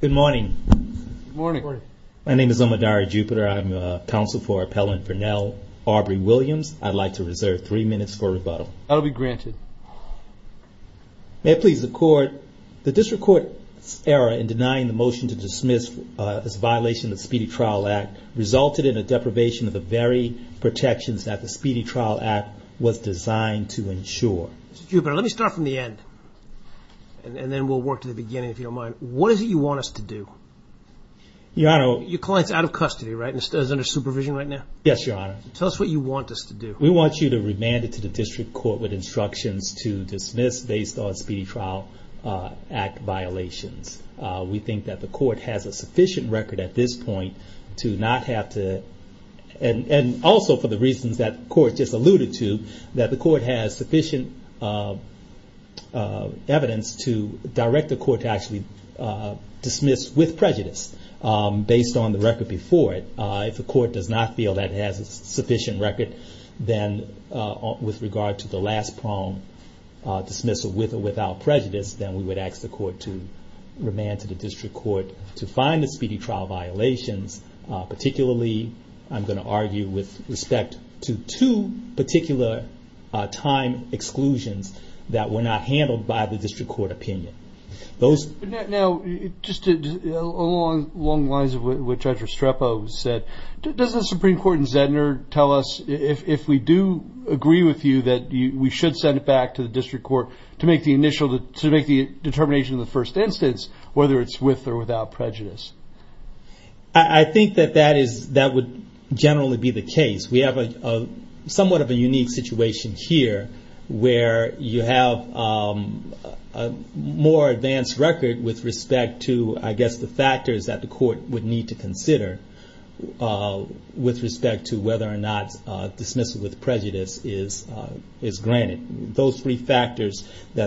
Good morning. Good morning. My name is Omodari Jupiter. I'm a counsel for Appellant Burnell Aubrey Williams. I'd like to reserve three minutes for rebuttal. That'll be granted. May it please the court. The district court's error in denying the motion to dismiss this violation of Speedy Trial Act resulted in a deprivation of the very protections that the Speedy Trial Act was designed to ensure. Mr. Jupiter, let me start from the end and then we'll work to the beginning if you don't mind. What is it you want us to do? Your client's out of custody, right, and is under supervision right now? Yes, your honor. Tell us what you want us to do. We want you to remand it to the district court with instructions to dismiss based on Speedy Trial Act violations. We think that the court has a sufficient record at this point to not have to, and also for the reasons that the court just alluded to, that the court has sufficient evidence to direct the court to actually dismiss with prejudice based on the record before it. If the court does not feel that it has a sufficient record, then with regard to the last prong dismissal with or without prejudice, then we would ask the court to remand to the district court to find the Speedy Trial violations. Particularly, I'm going to argue with respect to two particular time exclusions that were not handled by the district court opinion. Now, just along the lines of what Judge Restrepo said, does the Supreme Court in Zedner tell us if we do agree with you that we should send it back to the district court to make the initial, to make the determination of the first instance, whether it's with or without prejudice? I think that that is, that would generally be the case. We have a somewhat of a unique situation here where you have a more advanced record with respect to, I guess, the factors that the court would need to consider with respect to whether or not dismissal with prejudice is granted. Those three factors, the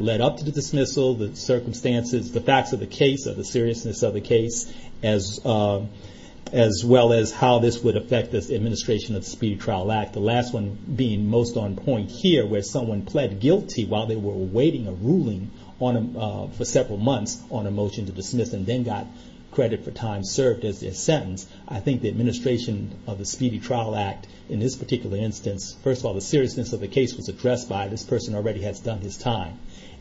motion to dismissal, the circumstances, the facts of the case or the seriousness of the case, as well as how this would affect this administration of the Speedy Trial Act. The last one being most on point here where someone pled guilty while they were awaiting a ruling for several months on a motion to dismiss and then got credit for time served as their sentence. I think the administration of the Speedy Trial Act in this particular instance, first of all, the seriousness of the case was addressed by this person who already has done his time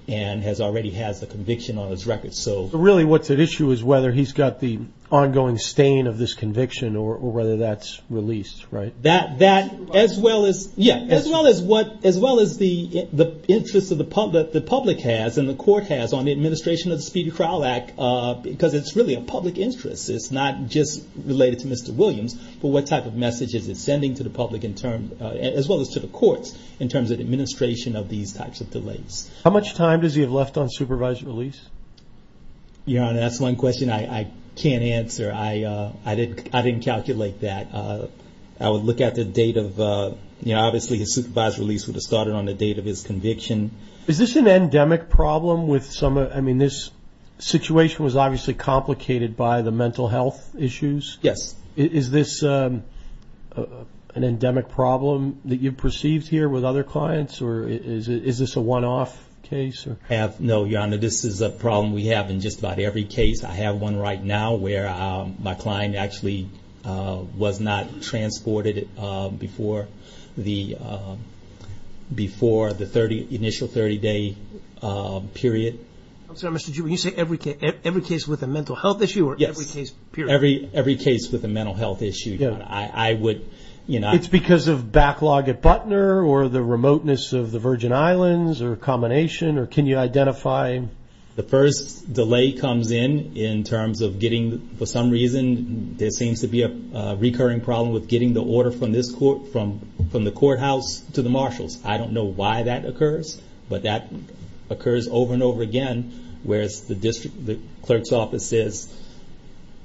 and has already has a conviction on his record. So really what's at issue is whether he's got the ongoing stain of this conviction or whether that's released, right? That, as well as, yeah, as well as what, as well as the interest of the public has and the court has on the administration of the Speedy Trial Act, because it's really a public interest. It's not just related to Mr. Williams, but what type of message is it sending to the public in terms, as well as to the courts, in terms of administration of these types of delays? How much time does he have left on supervised release? Your Honor, that's one question I can't answer. I didn't calculate that. I would look at the date of, you know, obviously his supervised release would have started on the date of his conviction. Is this an endemic problem with some, I mean, this situation was obviously complicated by the mental health issues? Yes. Is this an endemic problem that you've perceived here with other clients, or is this a one-off case? I have, no, Your Honor, this is a problem we have in just about every case. I have one right now where my client actually was not transported before the, before the 30, initial 30-day period. I'm sorry, Mr. G, when you say every case, every case with a mental health issue or every case period? Every case with a mental health issue, Your Honor. I would, you know, It's because of backlog at Butner, or the remoteness of the Virgin Islands, or a combination, or can you identify? The first delay comes in, in terms of getting, for some reason, there seems to be a recurring problem with getting the order from this court, from the courthouse to the marshals. I don't know why that occurs, but that occurs over and over again, whereas the district, the clerk's office says,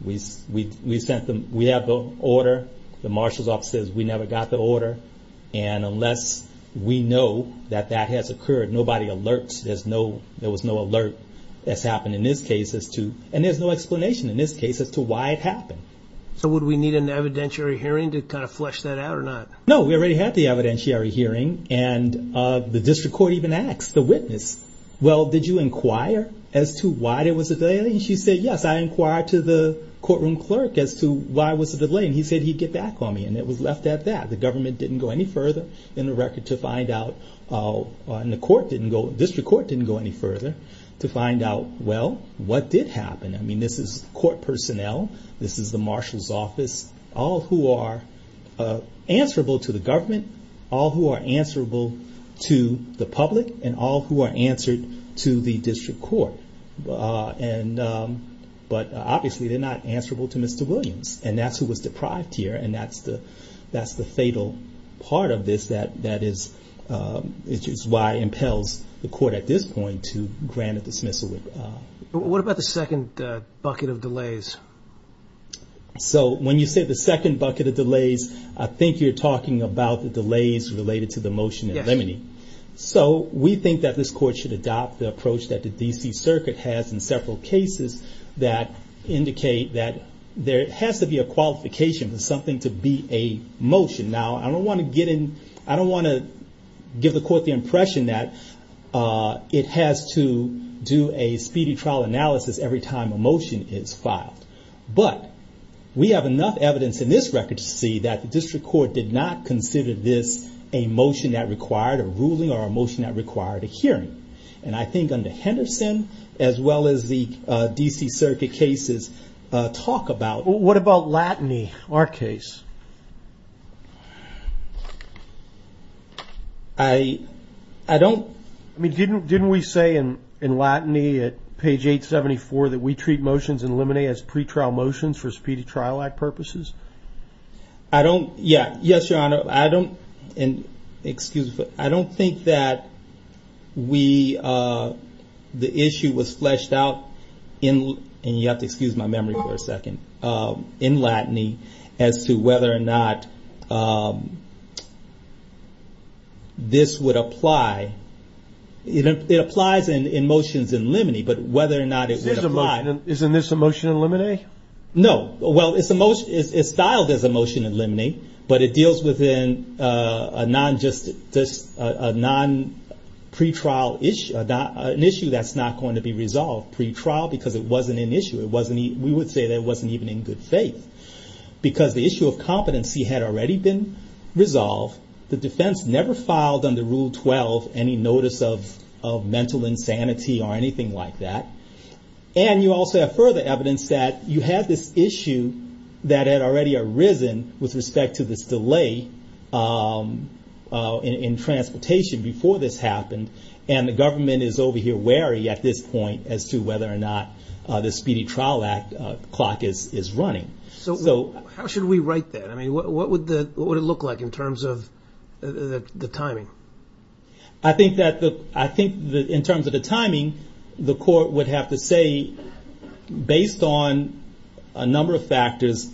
we sent them, we have the order, the marshal's office says we never got the order, and unless we know that that has occurred, nobody alerts, there's no, there was no alert that's happened in this case as to, and there's no explanation in this case as to why it happened. So would we need an evidentiary hearing to kind of flesh that out or not? No, we already had the evidentiary hearing, and the district court even asked the witness, well, did you inquire as to why there was a delay? And she said, yes, I inquired to the courtroom clerk as to why was the delay, and he said he'd get back on me, and it was left at that. The government didn't go any further in the record to find out, and the court didn't go, district court didn't go any further to find out, well, what did happen? I mean, this is court personnel, this is the marshal's office, all who are answerable to the government, all who are answerable to the public, and all who are answered to the district court. But obviously, they're not answerable to Mr. Williams, and that's who was deprived here, and that's the fatal part of this that is, which is why it impels the court at this point to grant a dismissal. What about the second bucket of delays? So when you say the second bucket of delays, I think you're talking about the delays related to the motion in Lemony. So we think that this court should adopt the approach that the D.C. Circuit has in several cases that indicate that there has to be a qualification for something to be a motion. Now, I don't want to give the court the impression that it has to do a speedy trial analysis every time a motion is filed, but we have enough evidence in this record to see that the district court did not consider this a motion that required a ruling or a motion that required a hearing. And I think under Henderson, as well as the D.C. Circuit cases, talk about... What about Latney, our case? I don't... Didn't we say in Latney at page 874 that we treat motions in Lemony as pretrial motions for Speedy Trial Act purposes? I don't... Yeah. Yes, Your Honor. And excuse me. I don't think that we... The issue was fleshed out in... And you have to excuse my memory for a second. In Latney, as to whether or not this would apply. It applies in motions in Lemony, but whether or not it would apply... Isn't this a motion in Lemony? No. Well, it's styled as a motion in Lemony, but it deals within a non-pre-trial issue. An issue that's not going to be resolved pre-trial because it wasn't an issue. We would say that it wasn't even in good faith, because the issue of competency had already been resolved. The defense never filed under Rule 12 any notice of mental insanity or anything like that. And you also have further evidence that you had this issue that had already arisen with respect to this delay in transportation before this happened. And the government is over here wary at this point as to whether or not the Speedy Trial Act clock is running. So how should we write that? I mean, what would it look like in terms of the timing? I think that in terms of the timing, the court would have to say, based on a number of factors,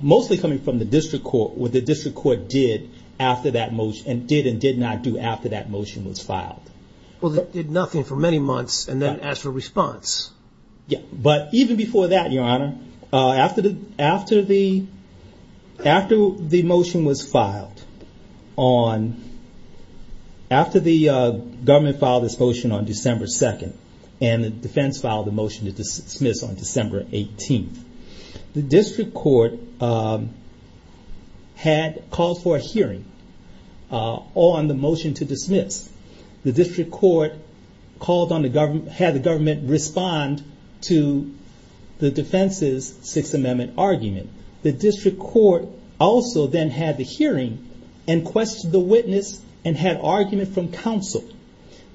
mostly coming from the district court, what the district court did after that motion, and did and did not do after that motion was filed. Well, they did nothing for many months and then asked for a response. Yeah. But even before that, Your Honor, after the motion was filed on after the government filed this motion on December 2nd, and the defense filed the motion to dismiss on December 18th, the district court had called for a hearing on the motion to dismiss. The district court called on the government, had the government respond to the defense's Sixth Amendment argument. The district court also then had the hearing and questioned the witness and had argument from counsel.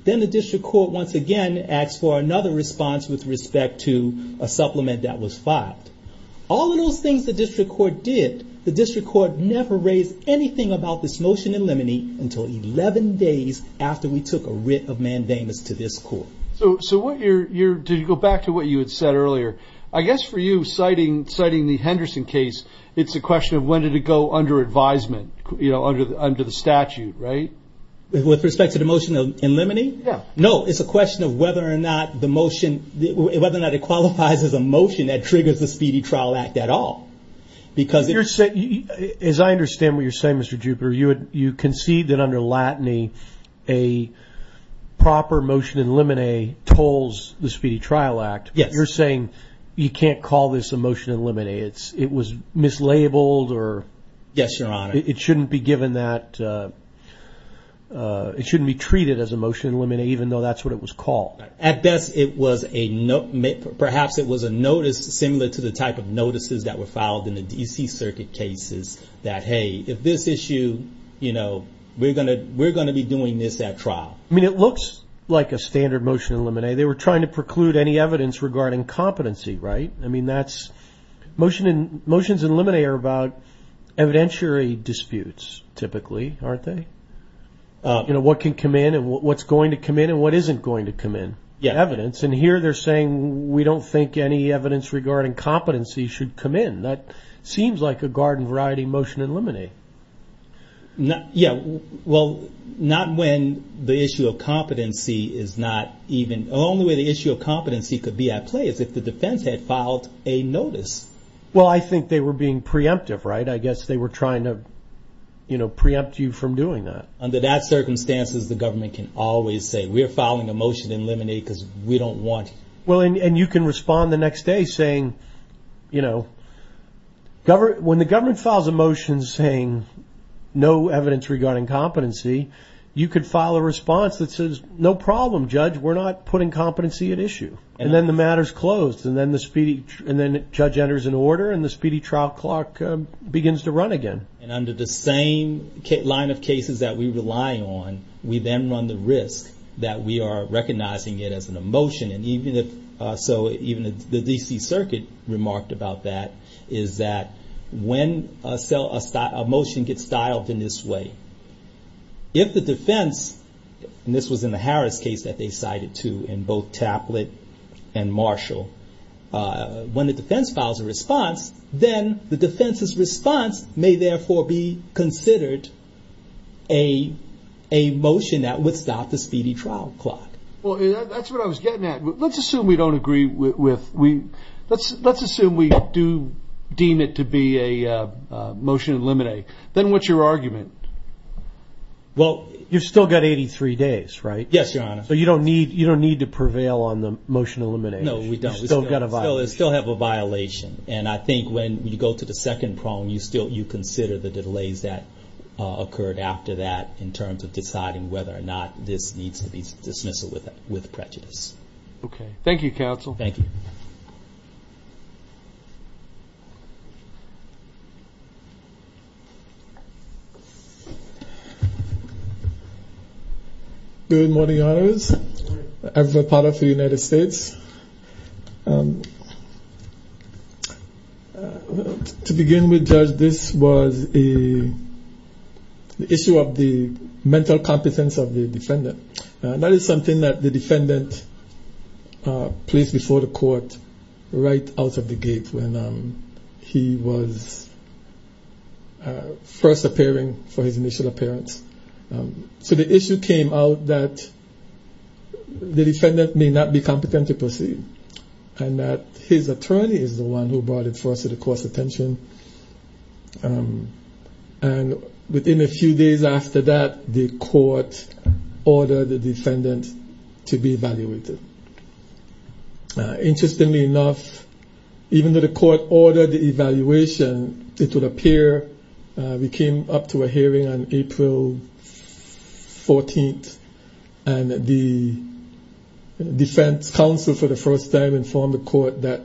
Then the district court once again asked for another response with respect to a supplement that was filed. All of those things the district court did, the district court never raised anything about this motion in limine until 11 days after we took a writ of mandamus to this court. So what you're, did you go back to what you had said earlier? I guess for you, citing the Henderson case, it's a question of when did it go under advisement? Under the statute, right? With respect to the motion in limine? Yeah. No, it's a question of whether or not the motion, whether or not it qualifies as a motion that triggers the Speedy Trial Act at all. As I understand what you're saying, Mr. Jupiter, you concede that under latiny, a proper motion in limine tolls the Speedy Trial Act. Yes. You're saying you can't call this a motion in limine. It was mislabeled or... Yes, Your Honor. It shouldn't be given that, it shouldn't be treated as a motion in limine even though that's what it was called. At best, it was a note, perhaps it was a notice similar to the type of notices that were filed in the DC circuit cases that, hey, if this issue, we're going to be doing this at trial. I mean, it looks like a standard motion in limine. They were trying to preclude any evidence regarding competency, right? I mean, motions in limine are about evidentiary disputes, typically, aren't they? What can come in and what's going to come in and what isn't going to come in? Yeah. Evidence. And here they're saying we don't think any evidence regarding competency should come in. That seems like a garden variety motion in limine. Yeah. Well, not when the issue of competency is not even... The only way the issue of competency could be at play is if the defense had filed a notice. Well, I think they were being preemptive, right? I guess they were trying to preempt you from doing that. Under that circumstances, the government can always say, we're filing a motion in limine because we don't want... Well, and you can respond the next day saying, when the government files a motion saying no evidence regarding competency, you could file a response that says, no problem, judge, we're not putting competency at issue. And then the matter's closed and then the speedy... And then judge enters an order and the speedy trial clock begins to run again. And under the same line of cases that we rely on, we then run the risk that we are recognizing it as an emotion. And even if... So even the DC circuit remarked about that, is that when a motion gets dialed in this way, if the defense, and this was in the Harris case that they cited too, in both Taplet and Marshall, when the defense files a response, then the defense's response may therefore be considered a motion that would stop the speedy trial clock. Well, that's what I was getting at. Let's assume we don't agree with... Let's assume we do deem it to be a motion in limine. Then what's your argument? Well, you've still got 83 days, right? Yes, Your Honor. So you don't need to prevail on the motion elimination. No, we don't. We still have a violation. And I think when you go to the second problem, you consider the delays that occurred after that in terms of deciding whether or not this needs to be dismissed with prejudice. Okay. Thank you, counsel. Thank you. Good morning, Your Honors. Good morning. Every part of the United States. To begin with, Judge, this was the issue of the mental competence of the defendant. That is something that the defendant placed before the court right out of the gate when he was first appearing for his initial appearance. So the issue came out that the defendant may not be competent to proceed and that his attorney is the one who brought it first to the court's attention. And within a few days after that, the court ordered the defendant to be evaluated. Interestingly enough, even though the court ordered the evaluation, it would appear we came up to a hearing on April 14th, and the defense counsel for the first time informed the court that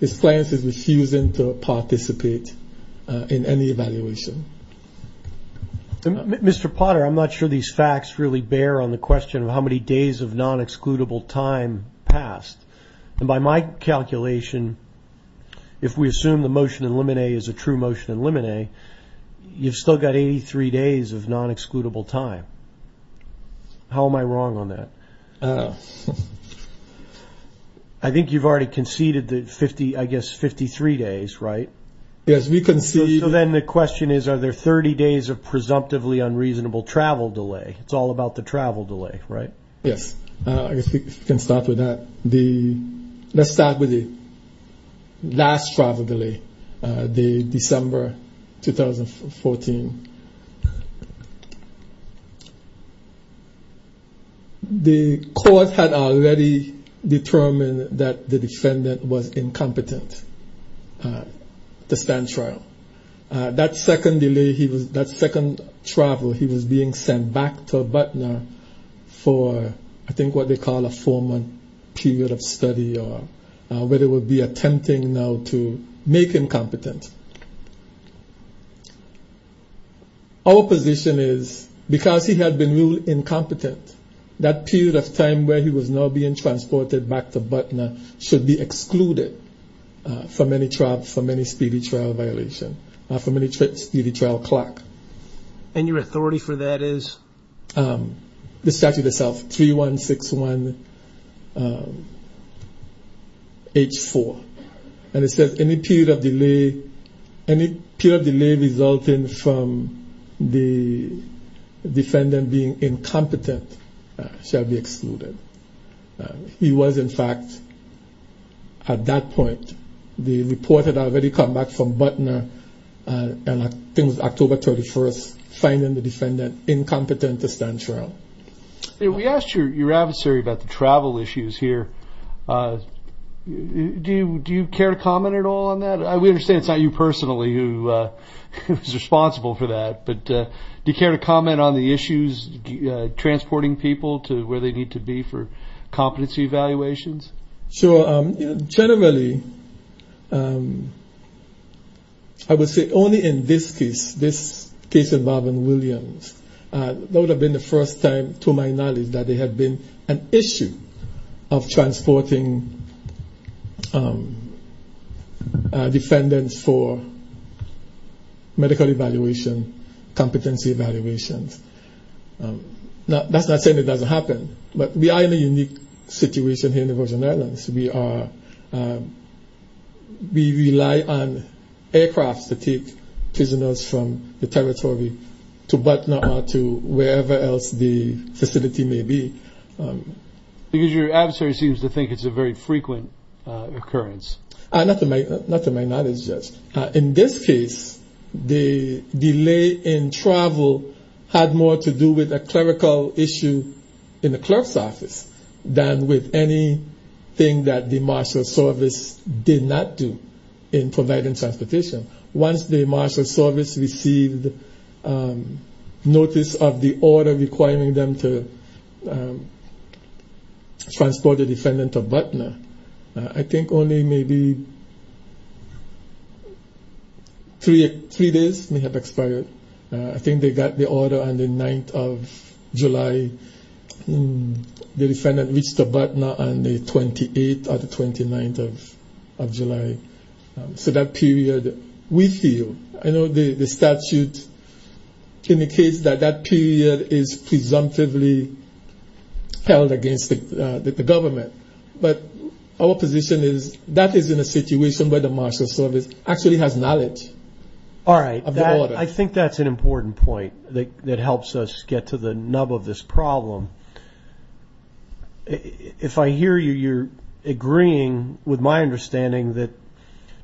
his client is refusing to participate in any evaluation. Mr. Potter, I'm not sure these facts really bear on the question of how many days of non-excludable time passed. And by my calculation, if we assume the motion in limine is a true motion in limine, you've still got 83 days of non-excludable time. How am I wrong on that? I think you've already conceded, I guess, 53 days, right? Yes, we conceded. So then the question is, are there 30 days of presumptively unreasonable travel delay? It's all about the travel delay, right? Yes, I guess we can start with that. Let's start with the last travel delay, the December 2014. The court had already determined that the defendant was incompetent to stand trial. That second delay, that second travel, he was being sent back to Butner for I think what they call a four-month period of study, or where they would be attempting now to make incompetent. Our position is, because he had been ruled incompetent, that period of time where he was now being transported back to Butner should be excluded for many speedy trial violations, for many speedy trial clack. And your authority for that is? The statute itself, 3161H4, and it says any period of delay resulting from the defendant being incompetent shall be excluded. He was in fact, at that point, the report had already come back from Butner, and I think it was October 31st, finding the defendant incompetent to stand trial. We asked your adversary about the travel issues here. Do you care to comment at all on that? We understand it's not you personally who is responsible for that, but do you care to be for competency evaluations? Sure. Generally, I would say only in this case, this case involving Williams, that would have been the first time, to my knowledge, that there had been an issue of transporting defendants for medical evaluation, competency evaluations. Now, that's not saying it doesn't happen, but we are in a unique situation here in the Virgin Islands. We rely on aircrafts to take prisoners from the territory to Butner or to wherever else the facility may be. Because your adversary seems to think it's a very frequent occurrence. Not to my knowledge, Judge. In this case, the delay in travel had more to do with a clerical issue in the clerk's office than with anything that the marshal service did not do in providing transportation. Once the marshal service received notice of the order requiring them to transport a defendant to Butner, I think only maybe three days may have expired. I think they got the order on the 9th of July. The defendant reached to Butner on the 28th or the 29th of July. So that period, we feel, I know the statute indicates that that period is presumptively held against the government. But our position is that is in a situation where the marshal service actually has knowledge. All right. I think that's an important point that helps us get to the nub of this problem. If I hear you, you're agreeing with my understanding that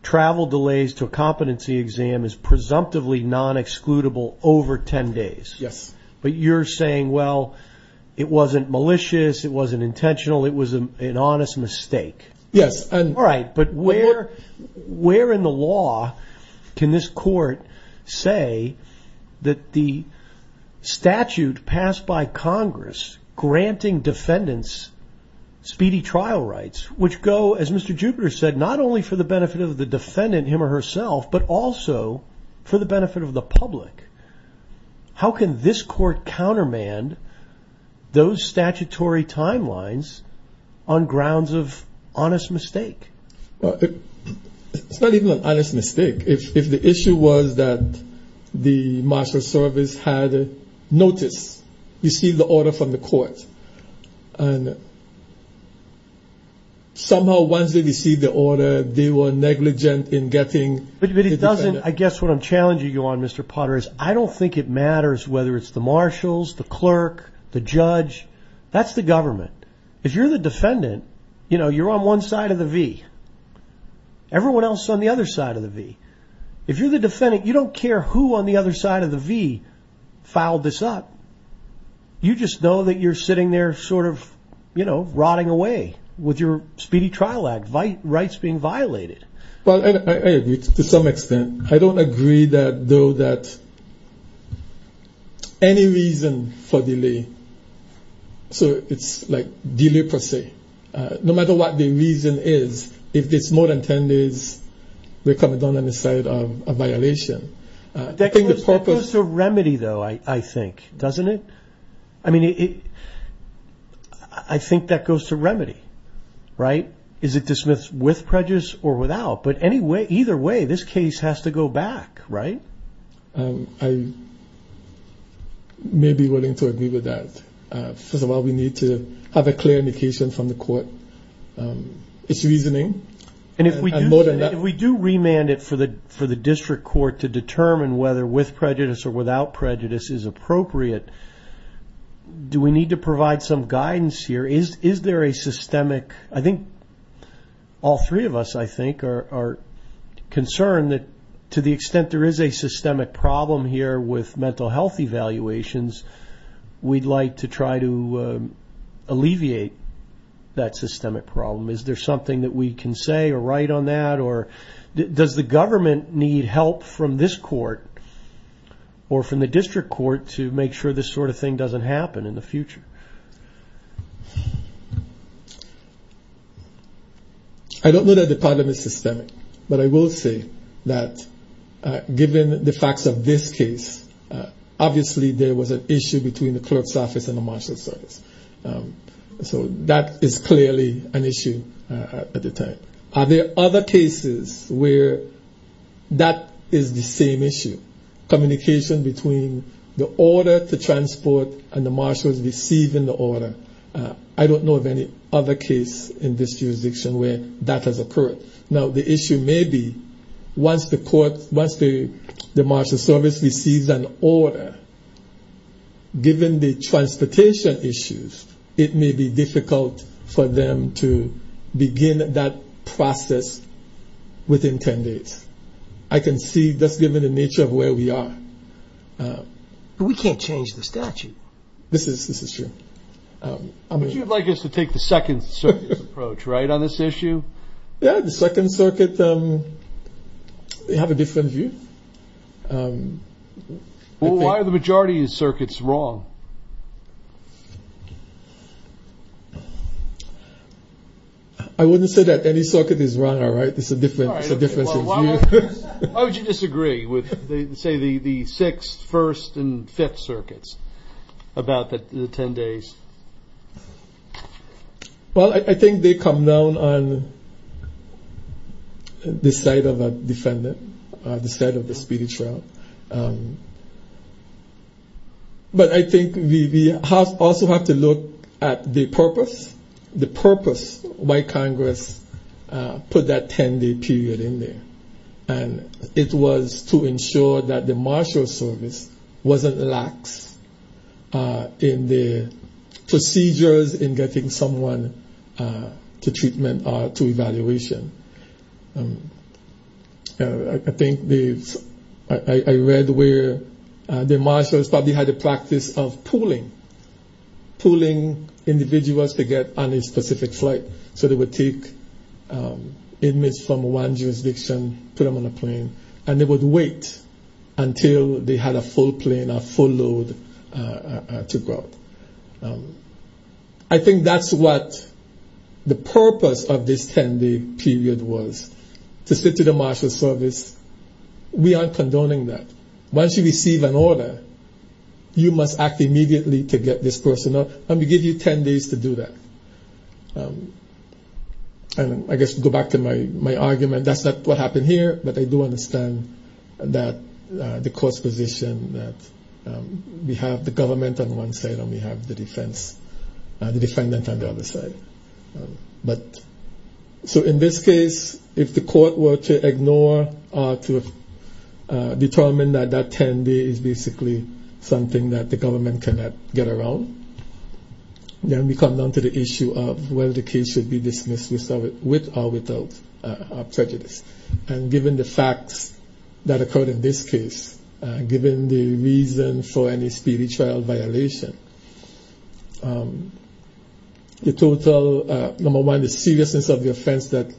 travel delays to a competency exam is presumptively non-excludable over 10 days. Yes. But you're saying, well, it wasn't malicious. It wasn't intentional. It was an honest mistake. Yes. All right. But where in the law can this court say that the statute passed by Congress granting defendants speedy trial rights, which go, as Mr. Jupiter said, not only for the benefit of the defendant, him or herself, but also for the benefit of the public. How can this court countermand those statutory timelines on grounds of honest mistake? It's not even an honest mistake. If the issue was that the marshal service had noticed, received the order from the court, and somehow once they received the order, they were negligent in getting the defendant. I guess what I'm challenging you on, Mr. Potter, is I don't think it matters whether it's the marshals, the clerk, the judge. That's the government. If you're the defendant, you're on one side of the V. Everyone else on the other side of the V. If you're the defendant, you don't care who on the other side of the V filed this up. You just know that you're sitting there rotting away with your speedy trial rights being violated. Well, I agree to some extent. I don't agree though that any reason for delay, so it's like delay per se. No matter what the reason is, if it's more than 10 days, we're coming down on the side of a violation. That goes to remedy though, I think, doesn't it? I mean, I think that goes to remedy, right? Is it dismissed with prejudice or without? Either way, this case has to go back, right? I may be willing to agree with that. First of all, we need to have a clear indication from the court it's reasoning. If we do remand it for the district court to determine whether with prejudice or without prejudice is appropriate, do we need to provide some guidance here? Is there a systemic, I think all three of us, I think, are concerned that to the extent there is a systemic problem here with mental health evaluations, we'd like to try to alleviate that systemic problem. Is there something that we can say or write on that or does the government need help from this court or from the district court to make sure this sort of thing doesn't happen in the future? I don't know that the problem is systemic, but I will say that given the facts of this case, obviously, there was an issue between the clerk's office and the marshal's office. So that is clearly an issue at the time. Are there other cases where that is the same issue, communication between the order to transport and the marshals receiving the order? I don't know any other case in this jurisdiction where that has occurred. Now the issue may be once the court, once the marshal's service receives an order, given the transportation issues, it may be difficult for them to begin that process within 10 days. I can see just given the nature of where we are. We can't change the statute. This is true. Would you like us to take the second circuit approach on this issue? Yeah, the second circuit, they have a different view. Why are the majority of circuits wrong? I wouldn't say that any circuit is wrong. It's a different view. Why would you disagree with, say, the sixth, first, and fifth circuits about the 10 days? Well, I think they come down on the side of a defendant, the side of the speech route. But I think we also have to look at the purpose, the purpose why Congress put that 10-day period in there. And it was to ensure that the marshal's service wasn't lax in the procedures in getting someone to treatment or to evaluation. I think I read where the marshals probably had a practice of pooling, pooling individuals to get on a specific flight. So they would take inmates from one jurisdiction, put them on a plane, and they would wait until they had a full plane, a full load to go. I think that's what the purpose of this 10-day period was, to say to the marshal's service, we aren't condoning that. Once you receive an order, you must act immediately to get this done. And I guess to go back to my argument, that's not what happened here, but I do understand that the court's position that we have the government on one side and we have the defense, the defendant on the other side. So in this case, if the court were to ignore or to determine that that 10-day is basically something that the government cannot get around, then we come down to the issue of whether the case should be dismissed with or without prejudice. And given the facts that occurred in this case, given the reason for any spiritual violation, the total, number one, the seriousness of the offense that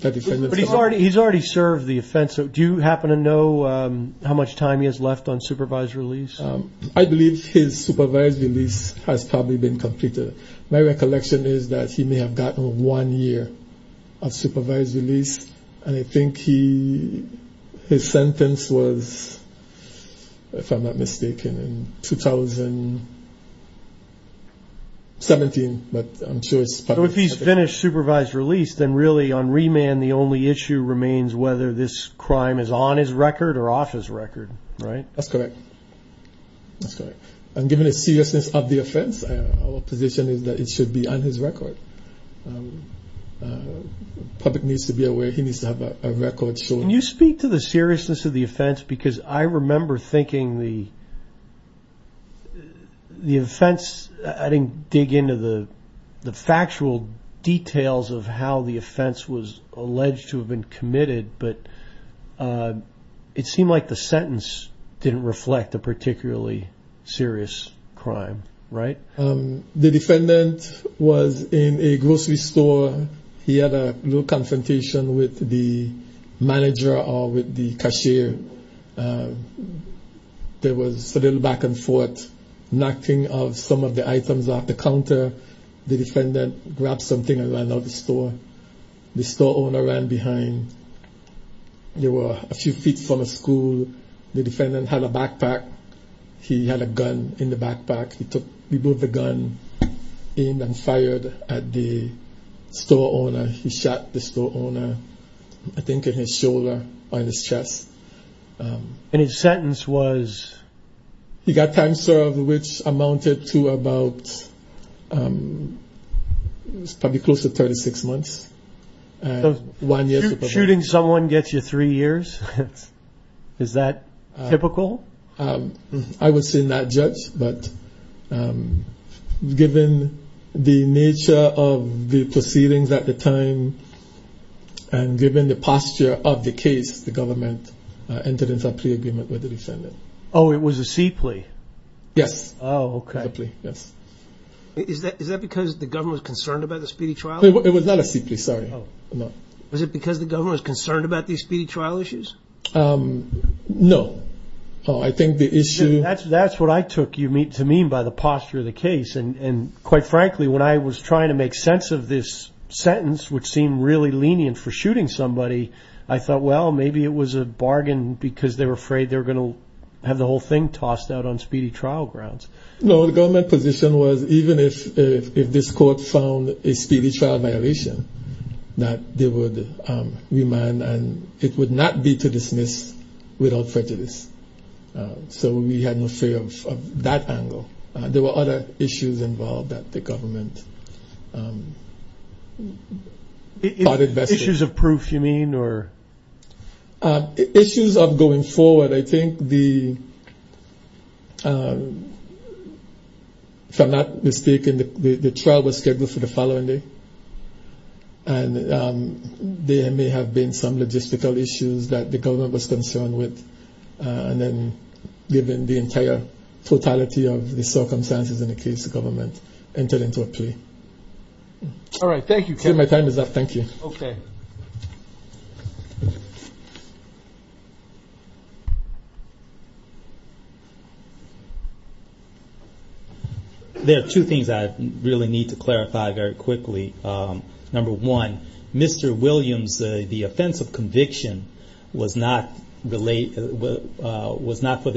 the defendant... But he's already served the offense. Do you happen to know how much time he has left on supervised release? His supervised release has probably been completed. My recollection is that he may have gotten one year of supervised release. And I think his sentence was, if I'm not mistaken, in 2017, but I'm sure it's... So if he's finished supervised release, then really on remand, the only issue remains whether this crime is on his record or off his record, right? That's correct. That's correct. And given the seriousness of the offense, our position is that it should be on his record. The public needs to be aware. He needs to have a record showing... Can you speak to the seriousness of the offense? Because I remember thinking the the offense, I didn't dig into the factual details of how the offense was a particularly serious crime, right? The defendant was in a grocery store. He had a little confrontation with the manager or with the cashier. There was a little back and forth, knocking of some of the items off the counter. The defendant grabbed something and ran out of the store. The store owner ran behind. There were a few feet from a school. The defendant had a backpack. He had a gun in the backpack. He took the gun, aimed and fired at the store owner. He shot the store owner, I think, in his shoulder or in his chest. And his sentence was? He got time served, which amounted to about... Shooting someone gets you three years? Is that typical? I would say not, Judge, but given the nature of the proceedings at the time and given the posture of the case, the government entered into a plea agreement with the defendant. Oh, it was a C plea? Yes. Oh, okay. Yes. Is that because the government was concerned about the speedy trial? It was not a C plea, sorry. Was it because the government was concerned about these speedy trial issues? No. Oh, I think the issue... That's what I took you to mean by the posture of the case. And quite frankly, when I was trying to make sense of this sentence, which seemed really lenient for shooting somebody, I thought, well, maybe it was a bargain because they were afraid they were going to have the whole thing tossed out on speedy trial grounds. No, the government position was even if this court found a speedy trial violation, that they would remand and it would not be to dismiss without prejudice. So we had an affair of that angle. There were other issues involved that the trial was scheduled for the following day. And there may have been some logistical issues that the government was concerned with. And then given the entire totality of the circumstances in the case, the government entered into a plea. All right. Thank you. My time is up. Thank you. Okay. There are two things I really need to clarify very quickly. Number one, Mr. Williams, the offense of conviction was not for the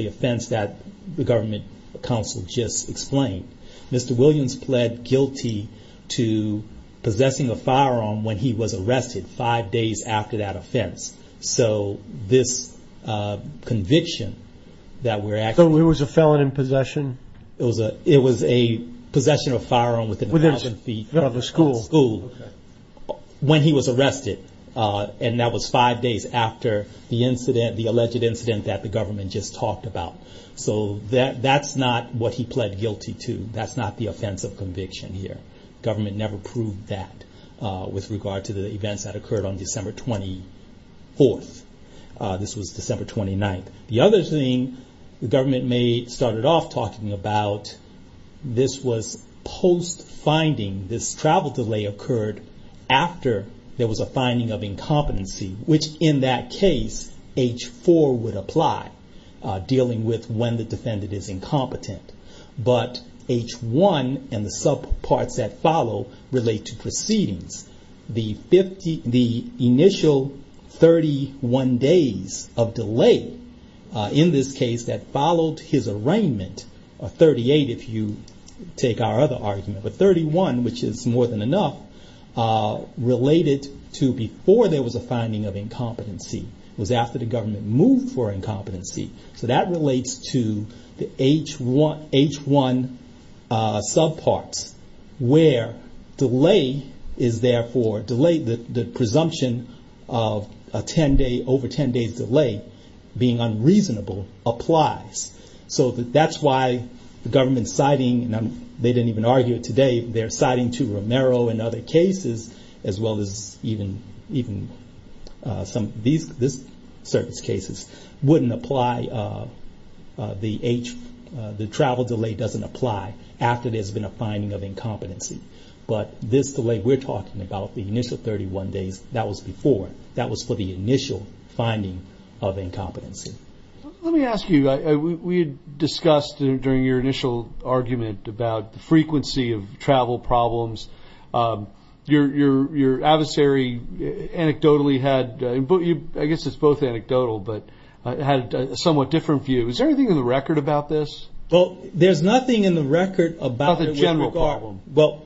offense that the government counsel just explained. Mr. Williams pled guilty to possessing a firearm when he was arrested five days after that offense. So this conviction that we're asking... So it was a felon in possession? It was a possession of a firearm within a thousand feet of the school when he was arrested. And that was five days after the incident, the alleged incident that the government just talked about. So that's not what he pled guilty to. That's not the offense of conviction here. Government never proved that with regard to the events that occurred on December 24th. This was December 29th. The other thing the government made, started off talking about, this was post-finding. This travel delay occurred after there was a finding of incompetency, which in that case, H4 would apply, dealing with when the defendant is incompetent. But H1 and the subparts that follow relate to proceedings. The initial 31 days of delay in this case that followed his arraignment, or 38 if you take our other argument, but 31, which is more than enough, related to before there was a finding of incompetency. It was after the government moved for incompetency. So that relates to the H1 subparts, where delay is therefore, the presumption of a 10 day, over 10 days delay, being unreasonable, applies. So that's why the government's citing, and they didn't even argue it today, they're citing to Romero and other cases, as well as even some of the other cases, wouldn't apply. The H, the travel delay doesn't apply after there's been a finding of incompetency. But this delay we're talking about, the initial 31 days, that was before. That was for the initial finding of incompetency. Let me ask you, we had discussed during your initial argument about the frequency of travel problems. Your adversary, anecdotally had, I guess it's both anecdotal, but had a somewhat different view. Is there anything in the record about this? There's nothing in the record about it. About the general problem. Well,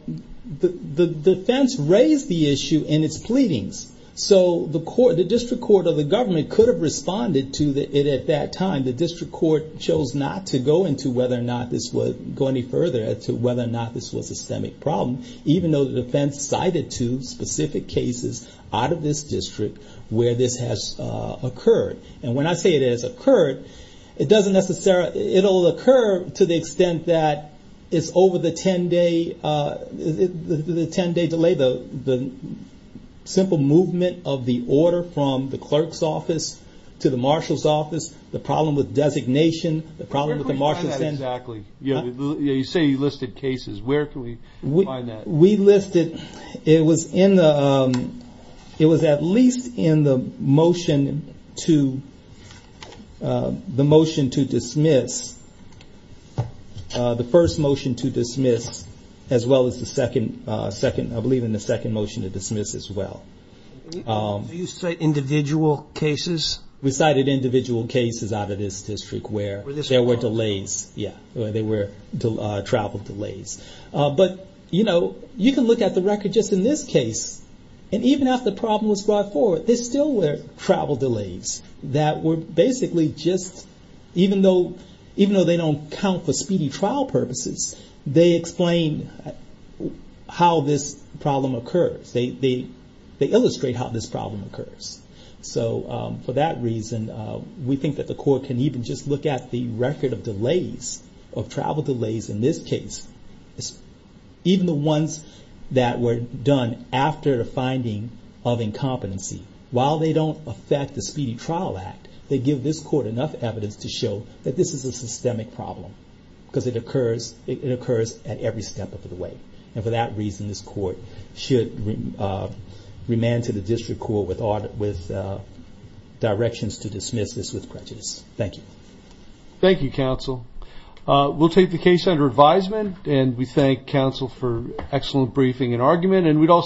the defense raised the issue in its pleadings. So the district court or the government could have responded to it at that time. The district court chose not to go into whether or not this was, go any further, even though the defense cited two specific cases out of this district where this has occurred. And when I say it has occurred, it doesn't necessarily, it'll occur to the extent that it's over the 10-day delay, the simple movement of the order from the clerk's office to the marshal's office, the problem with designation, the problem with the marshal's... Where can we find that exactly? You say you listed cases. Where can we find that? We listed, it was in the, it was at least in the motion to dismiss, the first motion to dismiss, as well as the second, I believe in the second motion to dismiss as well. Do you cite individual cases? We cited individual cases out of this district where there were delays, yeah, there were travel delays. But, you know, you can look at the record just in this case, and even after the problem was brought forward, there still were travel delays that were basically just, even though they don't count for speedy trial purposes, they explain how this problem occurs. They illustrate how this problem occurs. So for that reason, we think that the even the ones that were done after the finding of incompetency, while they don't affect the Speedy Trial Act, they give this court enough evidence to show that this is a systemic problem, because it occurs at every step of the way. And for that reason, this court should remand to the district court with directions to dismiss this with prejudice. Thank you. Thank you, counsel. We'll take the case under advisement, and we thank counsel for excellent briefing and argument.